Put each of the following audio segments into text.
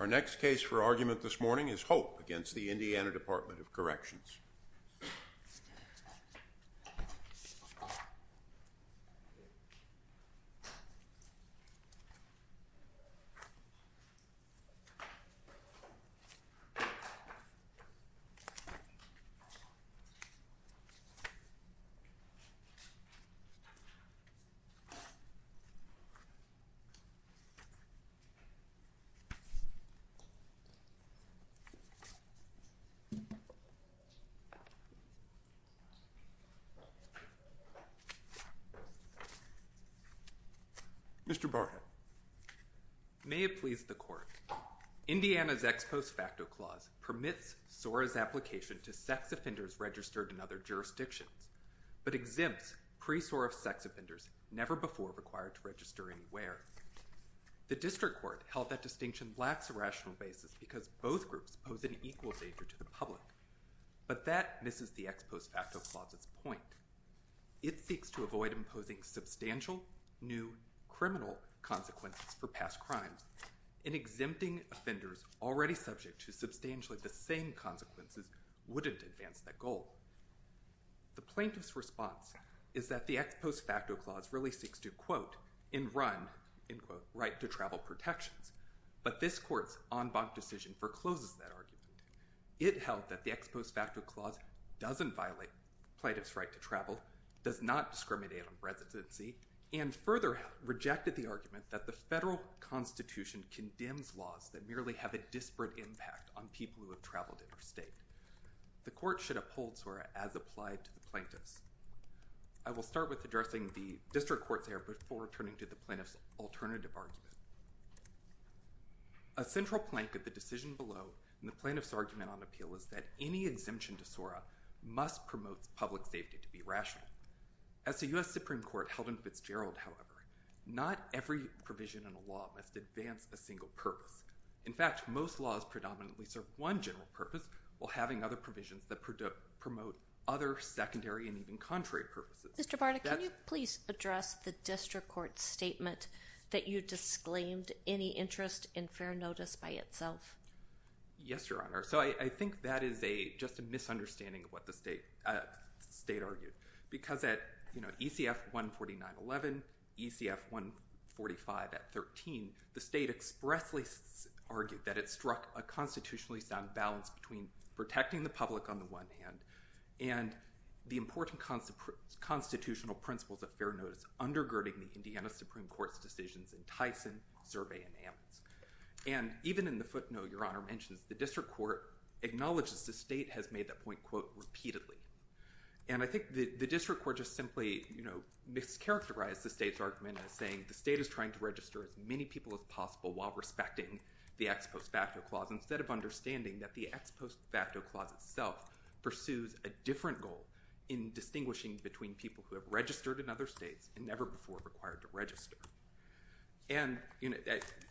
Our next case for argument this morning is Hope v. Indiana Department of Corrections. Mr. Barnett. May it please the court. Indiana's Ex Post Facto Clause permits SORA's application to sex offenders registered in other jurisdictions, but exempts pre-SORA sex offenders never before required to register anywhere. The District Court held that distinction lacks a rational basis because both groups pose an equal danger to the public, but that misses the Ex Post Facto Clause's point. It seeks to avoid imposing substantial new criminal consequences for past crimes, and exempting offenders already subject to substantially the same consequences wouldn't advance that goal. The plaintiff's response is that the Ex Post Facto Clause really seeks to quote, and run, right to travel protections, but this court's en banc decision forecloses that argument. It held that the Ex Post Facto Clause doesn't violate plaintiff's right to travel, does not discriminate on residency, and further rejected the argument that the federal constitution condemns laws that merely have a disparate impact on people who have traveled interstate. The court should uphold SORA as applied to the plaintiffs. I will start with addressing the District Court's error before returning to the plaintiff's alternative argument. A central plank of the decision below in the plaintiff's argument on appeal is that any exemption to SORA must promote public safety to be rational. As the U.S. Supreme Court held in Fitzgerald, however, not every provision in a law must advance a single purpose. In fact, most laws predominantly serve one general purpose while having other provisions that promote other secondary and even contrary purposes. Mr. Barta, can you please address the District Court's statement that you disclaimed any interest in fair notice by itself? Yes, Your Honor. So I think that is just a misunderstanding of what the state argued. Because at ECF 149.11, ECF 145 at 13, the state expressly argued that it struck a constitutionally sound balance between protecting the public on the one hand and the important constitutional principles of fair notice undergirding the Indiana Supreme Court's decisions in Tyson, Survey, and Ammons. And even in the footnote Your Honor mentions, the District Court acknowledges the state has made that point, quote, repeatedly. And I think the District Court just simply, you know, mischaracterized the state's argument as saying the state is trying to register as many people as possible while respecting the ex post facto clause, instead of understanding that the ex post facto clause itself pursues a different goal in distinguishing between people who have registered in other states and never before required to register. And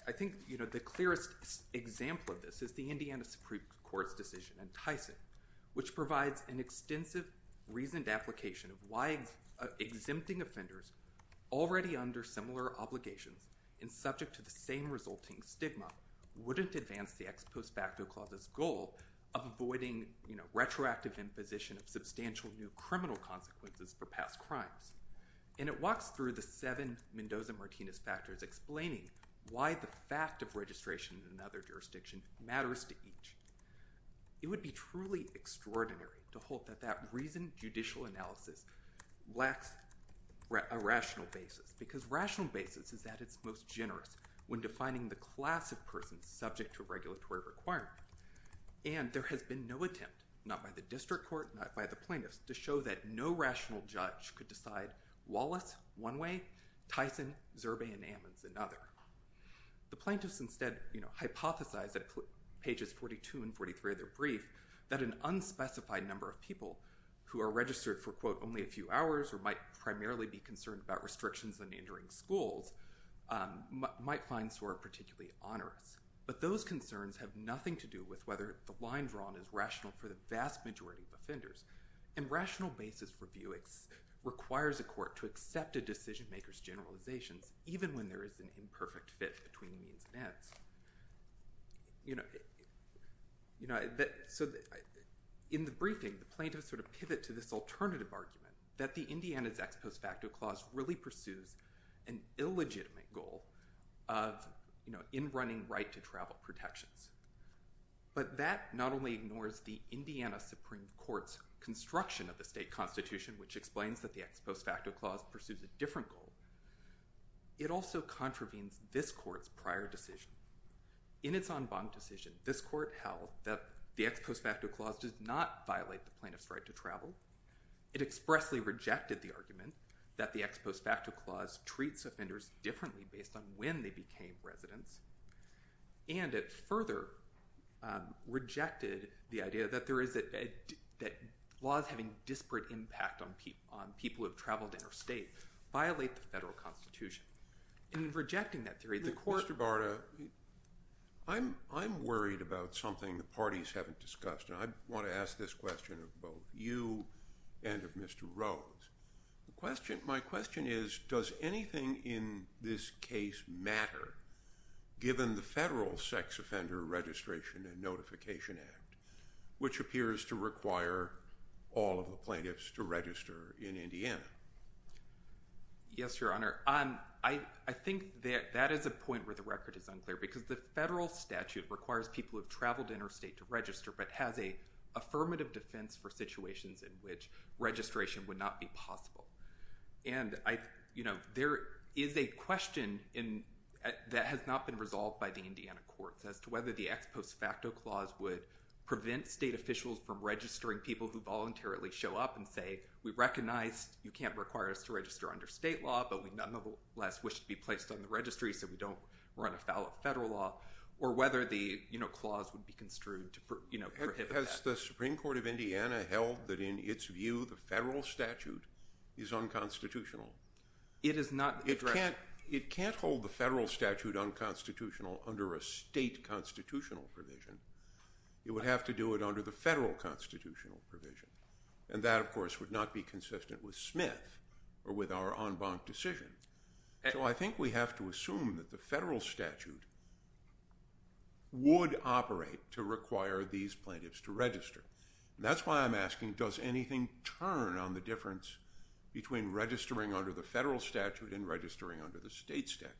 I think, you know, the clearest example of this is the Indiana Supreme Court's decision in Tyson, which provides an extensive reasoned application of why exempting offenders already under similar obligations and subject to the same resulting stigma wouldn't advance the ex post facto clause's goal of avoiding, you know, retroactive imposition of substantial new criminal consequences for past crimes. And it walks through the seven Mendoza-Martinez factors explaining why the fact of registration in another jurisdiction matters to each. It would be truly extraordinary to hope that that reasoned judicial analysis lacks a rational basis, because rational basis is at its most generous when defining the class of person subject to a regulatory requirement. And there has been no attempt, not by the district court, not by the plaintiffs, to show that no rational judge could decide Wallace one way, Tyson, Zerbe, and Ammons another. The plaintiffs instead hypothesized at pages 42 and 43 of their brief that an unspecified number of people who are registered for, quote, only a few hours or might primarily be concerned about restrictions on entering schools might find SOAR particularly onerous. But those concerns have nothing to do with whether the line drawn is rational for the vast majority of offenders. And rational basis review requires a court to accept a decision maker's generalizations, even when there is an imperfect fit between means and ends. You know, so in the briefing, the plaintiffs sort of pivot to this alternative argument, that the Indiana's ex post facto clause really pursues an illegitimate goal of, you know, in running right to travel protections. But that not only ignores the Indiana Supreme Court's construction of the state constitution, which explains that the ex post facto clause pursues a different goal. It also contravenes this court's prior decision. In its en banc decision, this court held that the ex post facto clause does not violate the plaintiff's right to travel. It expressly rejected the argument that the ex post facto clause treats offenders differently based on when they became residents. And it further rejected the idea that laws having disparate impact on people who have traveled interstate violate the federal constitution. In rejecting that theory, the court- Mr. Barta, I'm worried about something the parties haven't discussed. And I want to ask this question of both you and of Mr. Rhodes. My question is, does anything in this case matter, given the federal Sex Offender Registration and Notification Act, which appears to require all of the plaintiffs to register in Indiana? Yes, Your Honor. I think that that is a point where the record is unclear, because the federal statute requires people who have traveled interstate to register, but has an affirmative defense for situations in which registration would not be possible. And, you know, there is a question that has not been resolved by the Indiana courts as to whether the ex post facto clause would prevent state officials from registering people who voluntarily show up and say, we recognize you can't require us to register under state law, but we nonetheless wish to be placed on the registry so we don't run afoul of federal law. Or whether the clause would be construed to prohibit that. Has the Supreme Court of Indiana held that in its view the federal statute is unconstitutional? It is not- It can't hold the federal statute unconstitutional under a state constitutional provision. It would have to do it under the federal constitutional provision. And that, of course, would not be consistent with Smith or with our en banc decision. So I think we have to assume that the federal statute would operate to require these plaintiffs to register. And that's why I'm asking, does anything turn on the difference between registering under the federal statute and registering under the state statute?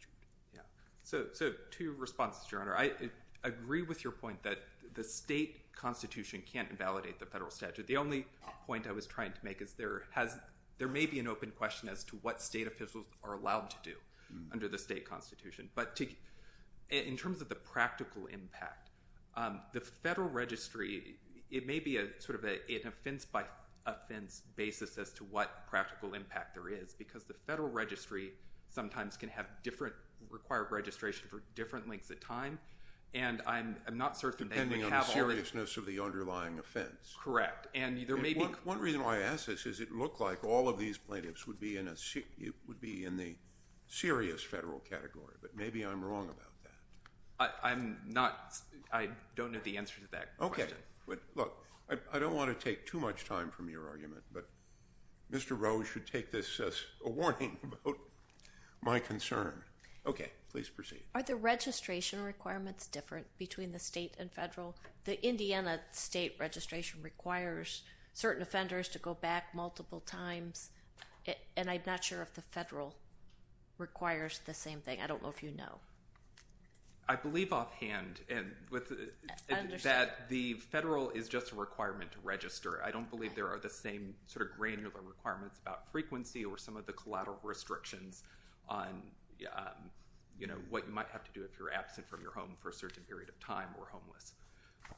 So two responses, Your Honor. I agree with your point that the state constitution can't invalidate the federal statute. The only point I was trying to make is there may be an open question as to what state officials are allowed to do under the state constitution. But in terms of the practical impact, the federal registry, it may be sort of an offense-by-offense basis as to what practical impact there is. Because the federal registry sometimes can have different required registration for different lengths of time. And I'm not certain they have all the- Depending on the seriousness of the underlying offense. Correct. And there may be- One reason why I ask this is it looked like all of these plaintiffs would be in the serious federal category. But maybe I'm wrong about that. I'm not- I don't know the answer to that question. Okay. Look, I don't want to take too much time from your argument. But Mr. Rowe should take this as a warning about my concern. Okay. Please proceed. Are the registration requirements different between the state and federal? The Indiana state registration requires certain offenders to go back multiple times. And I'm not sure if the federal requires the same thing. I don't know if you know. I believe offhand that the federal is just a requirement to register. I don't believe there are the same sort of granular requirements about frequency or some of the collateral restrictions on, you know, what you might have to do if you're absent from your home for a certain period of time or homeless. So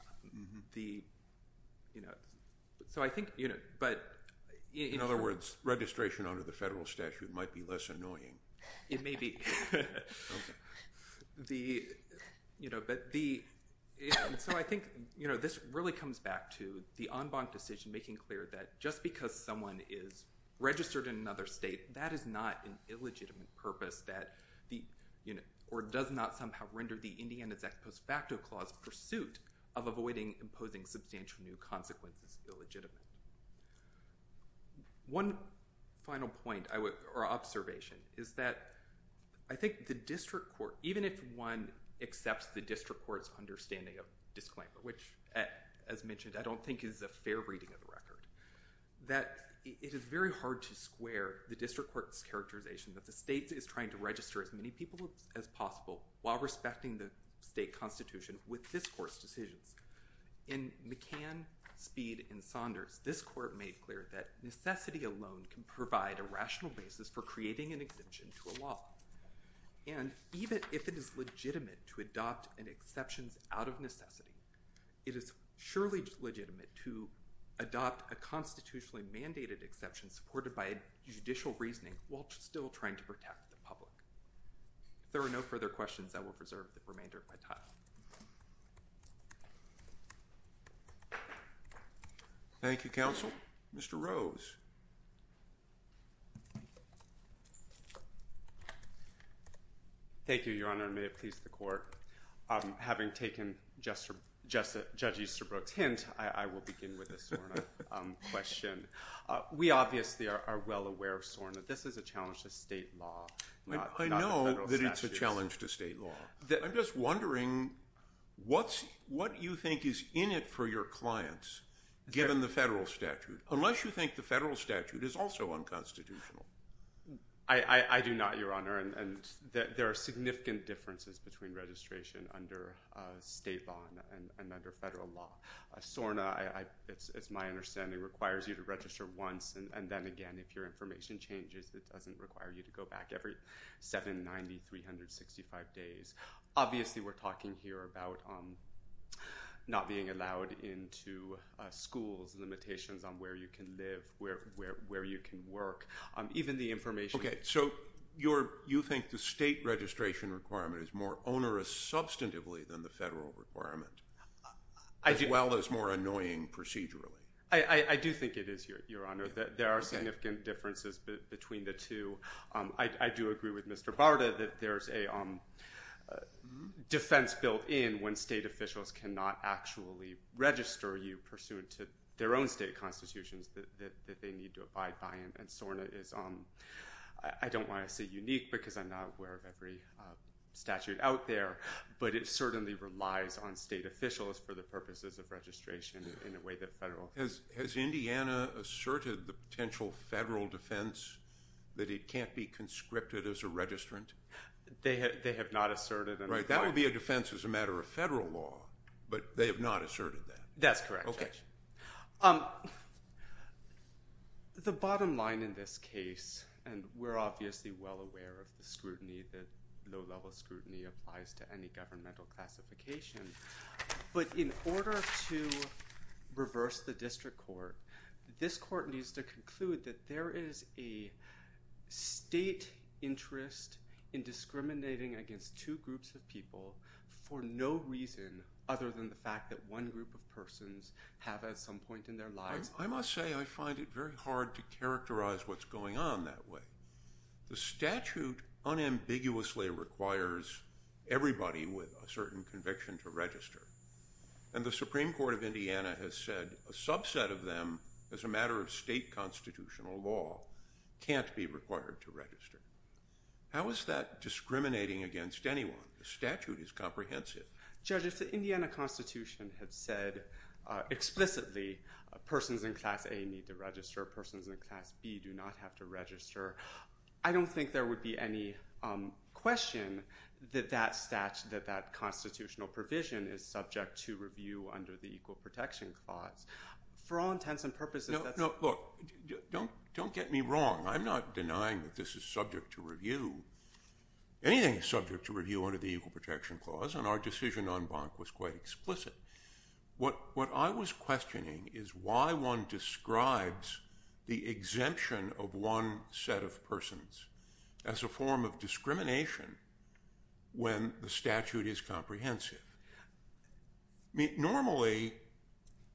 I think- In other words, registration under the federal statute might be less annoying. It may be. Okay. The- you know, but the- so I think, you know, this really comes back to the en banc decision making clear that just because someone is registered in another state, that is not an illegitimate purpose that the- you know, or does not somehow render the Indiana's ex post facto clause pursuit of avoiding imposing substantial new consequences illegitimate. One final point I would- or observation is that I think the district court, even if one accepts the district court's understanding of disclaimer, which as mentioned I don't think is a fair reading of the record, that it is very hard to square the district court's characterization that the state is trying to register as many people as possible while respecting the state constitution with this court's decisions. In McCann, Speed, and Saunders, this court made clear that necessity alone can provide a rational basis for creating an exemption to a law. And even if it is legitimate to adopt an exception out of necessity, it is surely legitimate to adopt a constitutionally mandated exception supported by judicial reasoning while still trying to protect the public. If there are no further questions, I will preserve the remainder of my time. Thank you, counsel. Mr. Rose. Thank you, Your Honor. May it please the court. Having taken Judge Easterbrook's hint, I will begin with a SORNA question. We obviously are well aware of SORNA. This is a challenge to state law. I know that it's a challenge to state law. I'm just wondering what you think is in it for your clients, given the federal statute, unless you think the federal statute is also unconstitutional. I do not, Your Honor. There are significant differences between registration under state law and under federal law. SORNA, it's my understanding, requires you to register once, and then, again, if your information changes, it doesn't require you to go back every 7, 90, 365 days. Obviously, we're talking here about not being allowed into schools, limitations on where you can live, where you can work. Even the information— Okay, so you think the state registration requirement is more onerous substantively than the federal requirement, as well as more annoying procedurally. I do think it is, Your Honor. There are significant differences between the two. I do agree with Mr. Barta that there's a defense built in when state officials cannot actually register you, pursuant to their own state constitutions that they need to abide by, and SORNA is, I don't want to say unique because I'm not aware of every statute out there, but it certainly relies on state officials for the purposes of registration in a way that federal— Has Indiana asserted the potential federal defense that it can't be conscripted as a registrant? They have not asserted— Right, that would be a defense as a matter of federal law, but they have not asserted that. That's correct, Judge. The bottom line in this case, and we're obviously well aware of the scrutiny, the low-level scrutiny applies to any governmental classification, but in order to reverse the district court, this court needs to conclude that there is a state interest in discriminating against two groups of people for no reason other than the fact that one group of persons have at some point in their lives— I must say I find it very hard to characterize what's going on that way. The statute unambiguously requires everybody with a certain conviction to register, and the Supreme Court of Indiana has said a subset of them, as a matter of state constitutional law, can't be required to register. How is that discriminating against anyone? The statute is comprehensive. Judge, if the Indiana Constitution had said explicitly persons in Class A need to register, persons in Class B do not have to register, I don't think there would be any question that that constitutional provision is subject to review under the Equal Protection Clause. For all intents and purposes— No, look, don't get me wrong. I'm not denying that this is subject to review. Anything is subject to review under the Equal Protection Clause, and our decision on Bonk was quite explicit. What I was questioning is why one describes the exemption of one set of persons as a form of discrimination when the statute is comprehensive. Normally,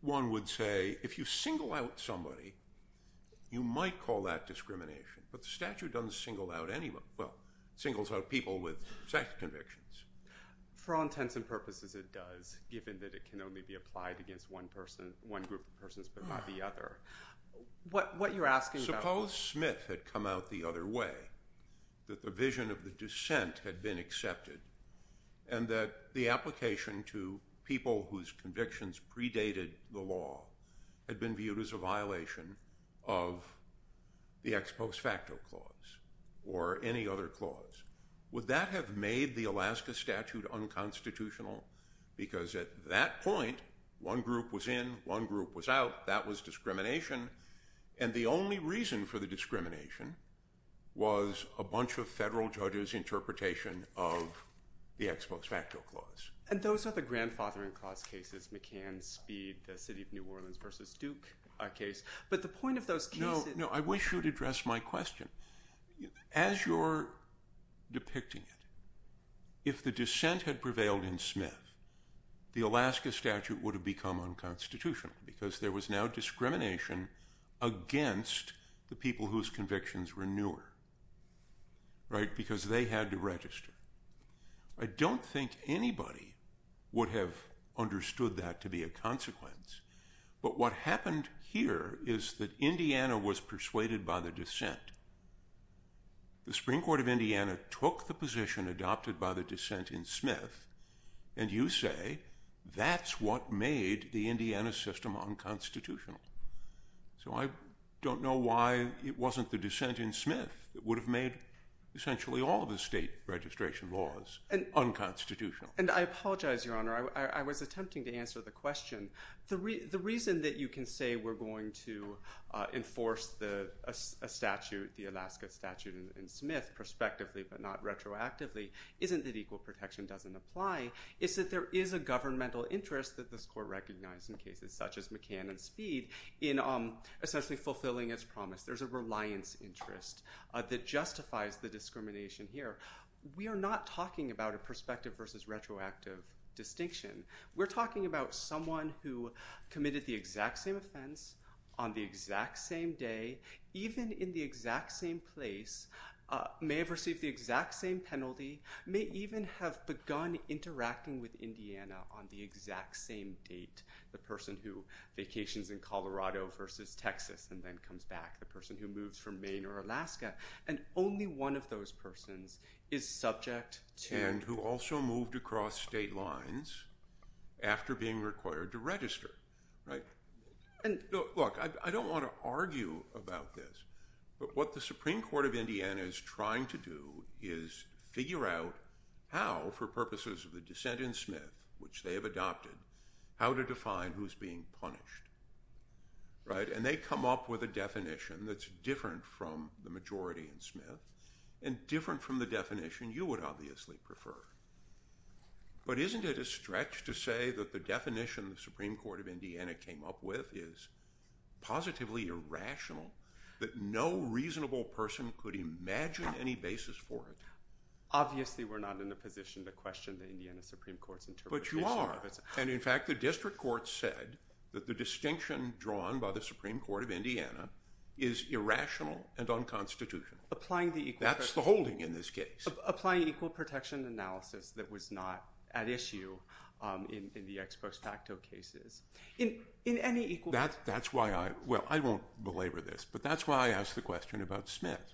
one would say if you single out somebody, you might call that discrimination, but the statute doesn't single out anyone—well, singles out people with sex convictions. For all intents and purposes, it does, given that it can only be applied against one group of persons but not the other. What you're asking— Suppose Smith had come out the other way, that the vision of the dissent had been accepted, and that the application to people whose convictions predated the law had been viewed as a violation of the Ex Post Facto Clause or any other clause. Would that have made the Alaska statute unconstitutional? Because at that point, one group was in, one group was out. That was discrimination. And the only reason for the discrimination was a bunch of federal judges' interpretation of the Ex Post Facto Clause. And those are the grandfathering clause cases—McCann, Speed, the City of New Orleans v. Duke case. But the point of those cases— No, I wish you'd address my question. As you're depicting it, if the dissent had prevailed in Smith, the Alaska statute would have become unconstitutional because there was now discrimination against the people whose convictions were newer. Right? Because they had to register. I don't think anybody would have understood that to be a consequence. But what happened here is that Indiana was persuaded by the dissent. The Supreme Court of Indiana took the position adopted by the dissent in Smith, and you say that's what made the Indiana system unconstitutional. So I don't know why it wasn't the dissent in Smith that would have made essentially all of the state registration laws unconstitutional. And I apologize, Your Honor. I was attempting to answer the question. The reason that you can say we're going to enforce a statute, the Alaska statute in Smith, prospectively but not retroactively, isn't that equal protection doesn't apply. It's that there is a governmental interest that this Court recognized in cases such as McCann and Speed in essentially fulfilling its promise. There's a reliance interest that justifies the discrimination here. We are not talking about a prospective versus retroactive distinction. We're talking about someone who committed the exact same offense on the exact same day, even in the exact same place, may have received the exact same penalty, may even have begun interacting with Indiana on the exact same date, the person who vacations in Colorado versus Texas and then comes back, the person who moves from Maine or Alaska. And only one of those persons is subject to- And who also moved across state lines after being required to register. Look, I don't want to argue about this, but what the Supreme Court of Indiana is trying to do is figure out how, for purposes of the dissent in Smith, which they have adopted, how to define who's being punished. And they come up with a definition that's different from the majority in Smith and different from the definition you would obviously prefer. But isn't it a stretch to say that the definition the Supreme Court of Indiana came up with is positively irrational, that no reasonable person could imagine any basis for it? Obviously, we're not in a position to question the Indiana Supreme Court's interpretation of it. But you are. And in fact, the district court said that the distinction drawn by the Supreme Court of Indiana is irrational and unconstitutional. That's the holding in this case. Applying equal protection analysis that was not at issue in the ex post facto cases. In any equal- That's why I- Well, I won't belabor this, but that's why I asked the question about Smith.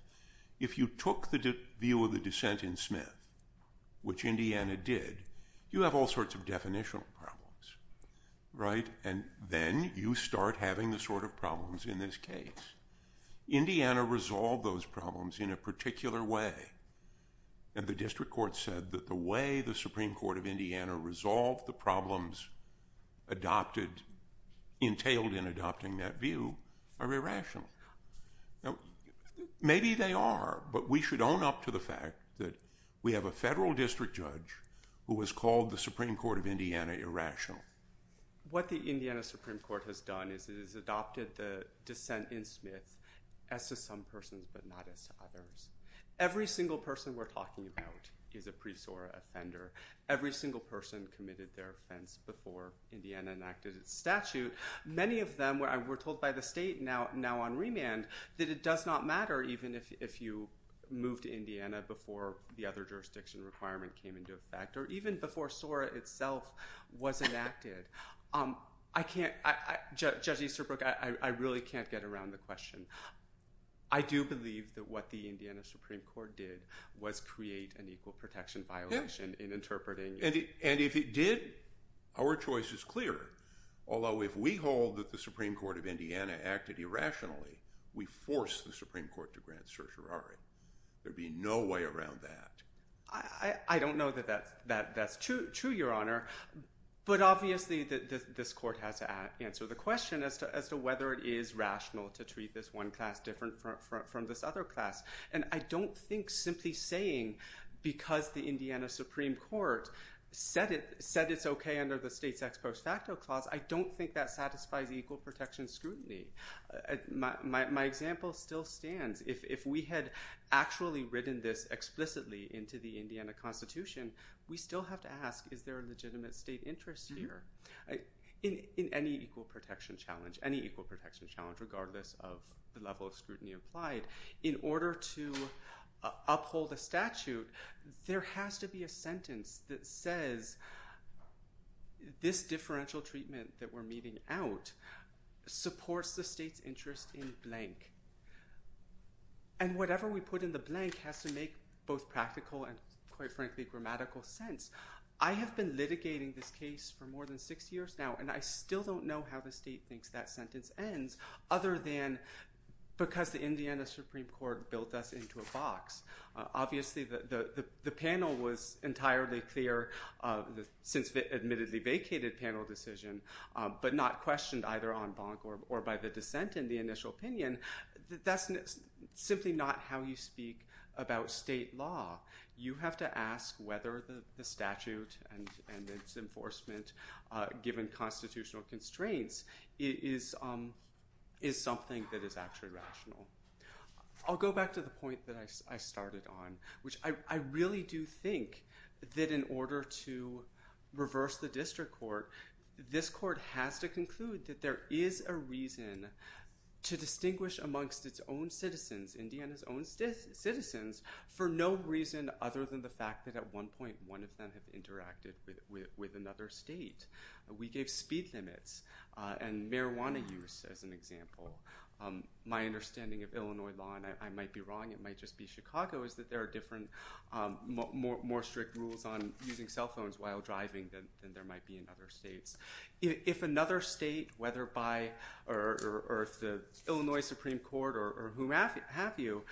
If you took the view of the dissent in Smith, which Indiana did, you have all sorts of definitional problems, right? And then you start having the sort of problems in this case. Indiana resolved those problems in a particular way. And the district court said that the way the Supreme Court of Indiana resolved the problems entailed in adopting that view are irrational. Maybe they are, but we should own up to the fact that we have a federal district judge who has called the Supreme Court of Indiana irrational. What the Indiana Supreme Court has done is it has adopted the dissent in Smith as to some persons but not as to others. Every single person we're talking about is a pre-SORA offender. Every single person committed their offense before Indiana enacted its statute. Many of them were told by the state now on remand that it does not matter even if you moved to Indiana before the other jurisdiction requirement came into effect or even before SORA itself was enacted. Judge Easterbrook, I really can't get around the question. I do believe that what the Indiana Supreme Court did was create an equal protection violation in interpreting it. And if it did, our choice is clear. Although if we hold that the Supreme Court of Indiana acted irrationally, we force the Supreme Court to grant certiorari. There would be no way around that. I don't know that that's true, Your Honor. But obviously this court has to answer the question as to whether it is rational to treat this one class different from this other class. And I don't think simply saying because the Indiana Supreme Court said it's okay under the state's ex post facto clause, I don't think that satisfies equal protection scrutiny. My example still stands. If we had actually written this explicitly into the Indiana Constitution, we still have to ask is there a legitimate state interest here? In any equal protection challenge, any equal protection challenge, regardless of the level of scrutiny applied, in order to uphold a statute, there has to be a sentence that says this differential treatment that we're meeting out supports the state's interest in blank. And whatever we put in the blank has to make both practical and, quite frankly, grammatical sense. I have been litigating this case for more than six years now, and I still don't know how the state thinks that sentence ends, other than because the Indiana Supreme Court built us into a box. Obviously the panel was entirely clear since the admittedly vacated panel decision, but not questioned either on bonk or by the dissent in the initial opinion. That's simply not how you speak about state law. You have to ask whether the statute and its enforcement given constitutional constraints is something that is actually rational. I'll go back to the point that I started on, which I really do think that in order to reverse the district court, this court has to conclude that there is a reason to distinguish amongst its own citizens, Indiana's own citizens, for no reason other than the fact that at one point, one of them had interacted with another state. We gave speed limits and marijuana use as an example. My understanding of Illinois law, and I might be wrong, it might just be Chicago, is that there are different, more strict rules on using cell phones while driving than there might be in other states. If another state, whether by the Illinois Supreme Court or whom have you,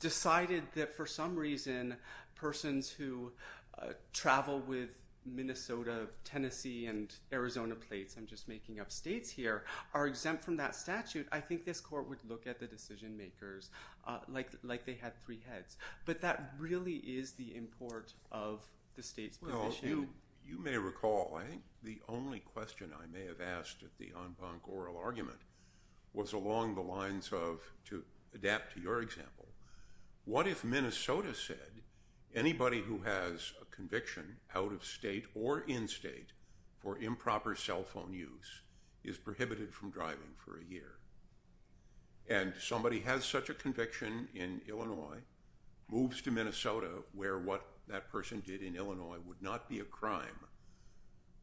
decided that for some reason persons who travel with Minnesota, Tennessee, and Arizona plates, I'm just making up states here, are exempt from that statute, I think this court would look at the decision makers like they had three heads. But that really is the import of the state's position. You may recall, I think the only question I may have asked at the en banc oral argument was along the lines of, to adapt to your example, what if Minnesota said anybody who has a conviction out of state or in state for improper cell phone use is prohibited from driving for a year? And somebody has such a conviction in Illinois, moves to Minnesota, where what that person did in Illinois would not be a crime,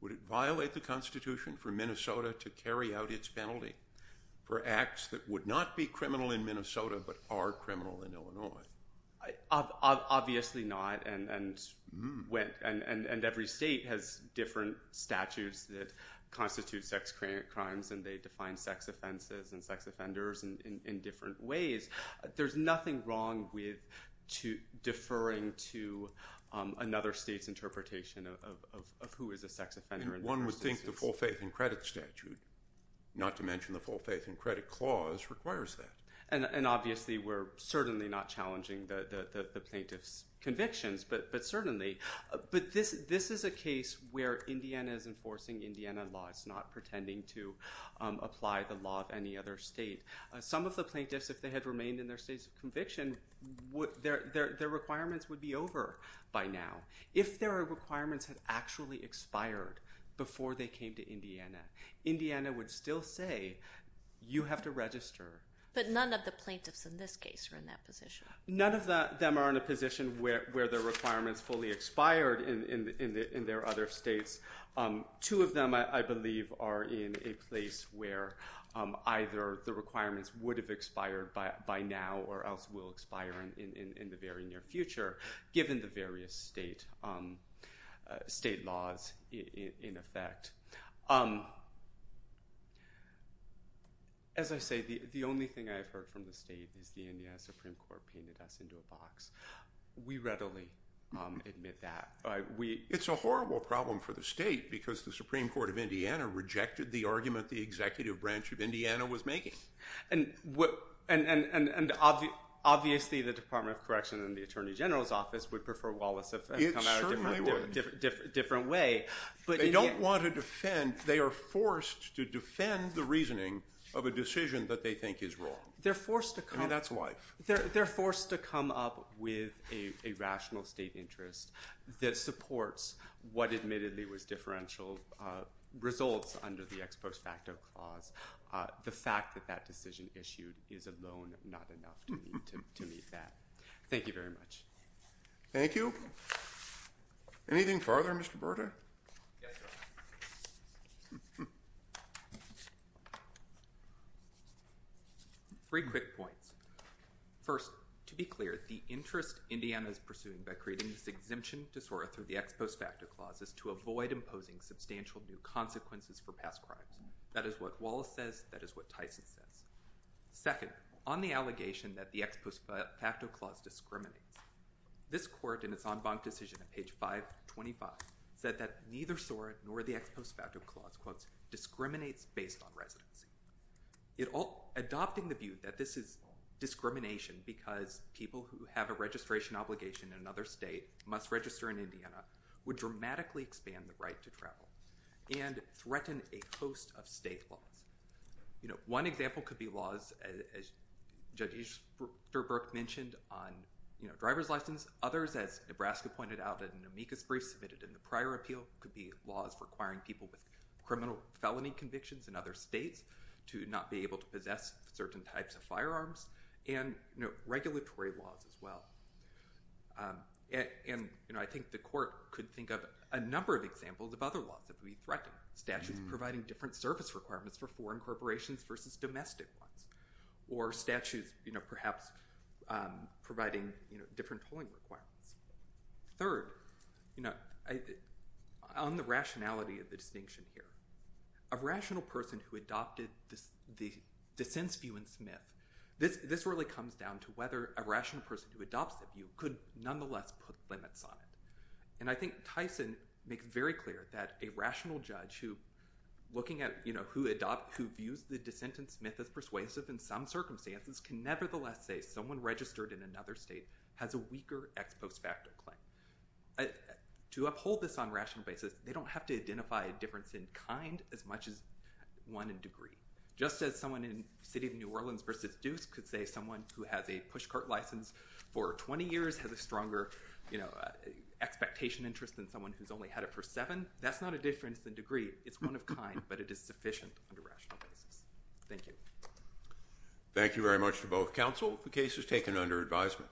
would it violate the Constitution for Minnesota to carry out its penalty for acts that would not be criminal in Minnesota but are criminal in Illinois? Obviously not, and every state has different statutes that constitute sex crimes and they define sex offenses and sex offenders in different ways. There's nothing wrong with deferring to another state's interpretation of who is a sex offender. One would think the full faith and credit statute, not to mention the full faith and credit clause, requires that. And obviously we're certainly not challenging the plaintiff's convictions, but certainly. But this is a case where Indiana is enforcing Indiana laws, not pretending to apply the law of any other state. Some of the plaintiffs, if they had remained in their states of conviction, their requirements would be over by now. If their requirements had actually expired before they came to Indiana, Indiana would still say, you have to register. But none of the plaintiffs in this case are in that position. None of them are in a position where their requirements fully expired in their other states. Two of them, I believe, are in a place where either the requirements would have expired by now or else will expire in the very near future, given the various state laws in effect. As I say, the only thing I've heard from the state is the Indiana Supreme Court painted us into a box. We readily admit that. It's a horrible problem for the state because the Supreme Court of Indiana rejected the argument the executive branch of Indiana was making. And obviously the Department of Correction and the Attorney General's Office would prefer Wallace if it had come out a different way. They don't want to defend. They are forced to defend the reasoning of a decision that they think is wrong. I mean, that's life. They're forced to come up with a rational state interest that supports what admittedly was differential results under the ex post facto clause. The fact that that decision issued is alone not enough to meet that. Thank you very much. Thank you. Anything further, Mr. Berta? Three quick points. First, to be clear, the interest Indiana is pursuing by creating this exemption disorder through the ex post facto clause is to avoid imposing substantial new consequences for past crimes. That is what Wallace says. That is what Tyson says. Second, on the allegation that the ex post facto clause discriminates, this court in its en banc decision at page 525 said that neither SORA nor the ex post facto clause discriminates based on residency. Adopting the view that this is discrimination because people who have a registration obligation in another state must register in Indiana would dramatically expand the right to travel and threaten a host of state laws. One example could be laws, as Judge Easterbrook mentioned, on driver's license. Others, as Nebraska pointed out in an amicus brief submitted in the prior appeal, could be laws requiring people with criminal felony convictions in other states to not be able to possess certain types of firearms and regulatory laws as well. And I think the court could think of a number of examples of other laws that would be threatened, like statutes providing different service requirements for foreign corporations versus domestic ones or statutes perhaps providing different tolling requirements. Third, on the rationality of the distinction here, a rational person who adopted the dissense view in Smith, this really comes down to whether a rational person who adopts the view could nonetheless put limits on it. And I think Tyson makes very clear that a rational judge who views the dissent in Smith as persuasive in some circumstances can nevertheless say someone registered in another state has a weaker ex post facto claim. To uphold this on a rational basis, they don't have to identify a difference in kind as much as one in degree. Just as someone in the city of New Orleans versus Deuce could say someone who has a push cart license for 20 years has a stronger expectation interest than someone who's only had it for seven, that's not a difference in degree. It's one of kind, but it is sufficient on a rational basis. Thank you. Thank you very much to both counsel. The case is taken under advisement.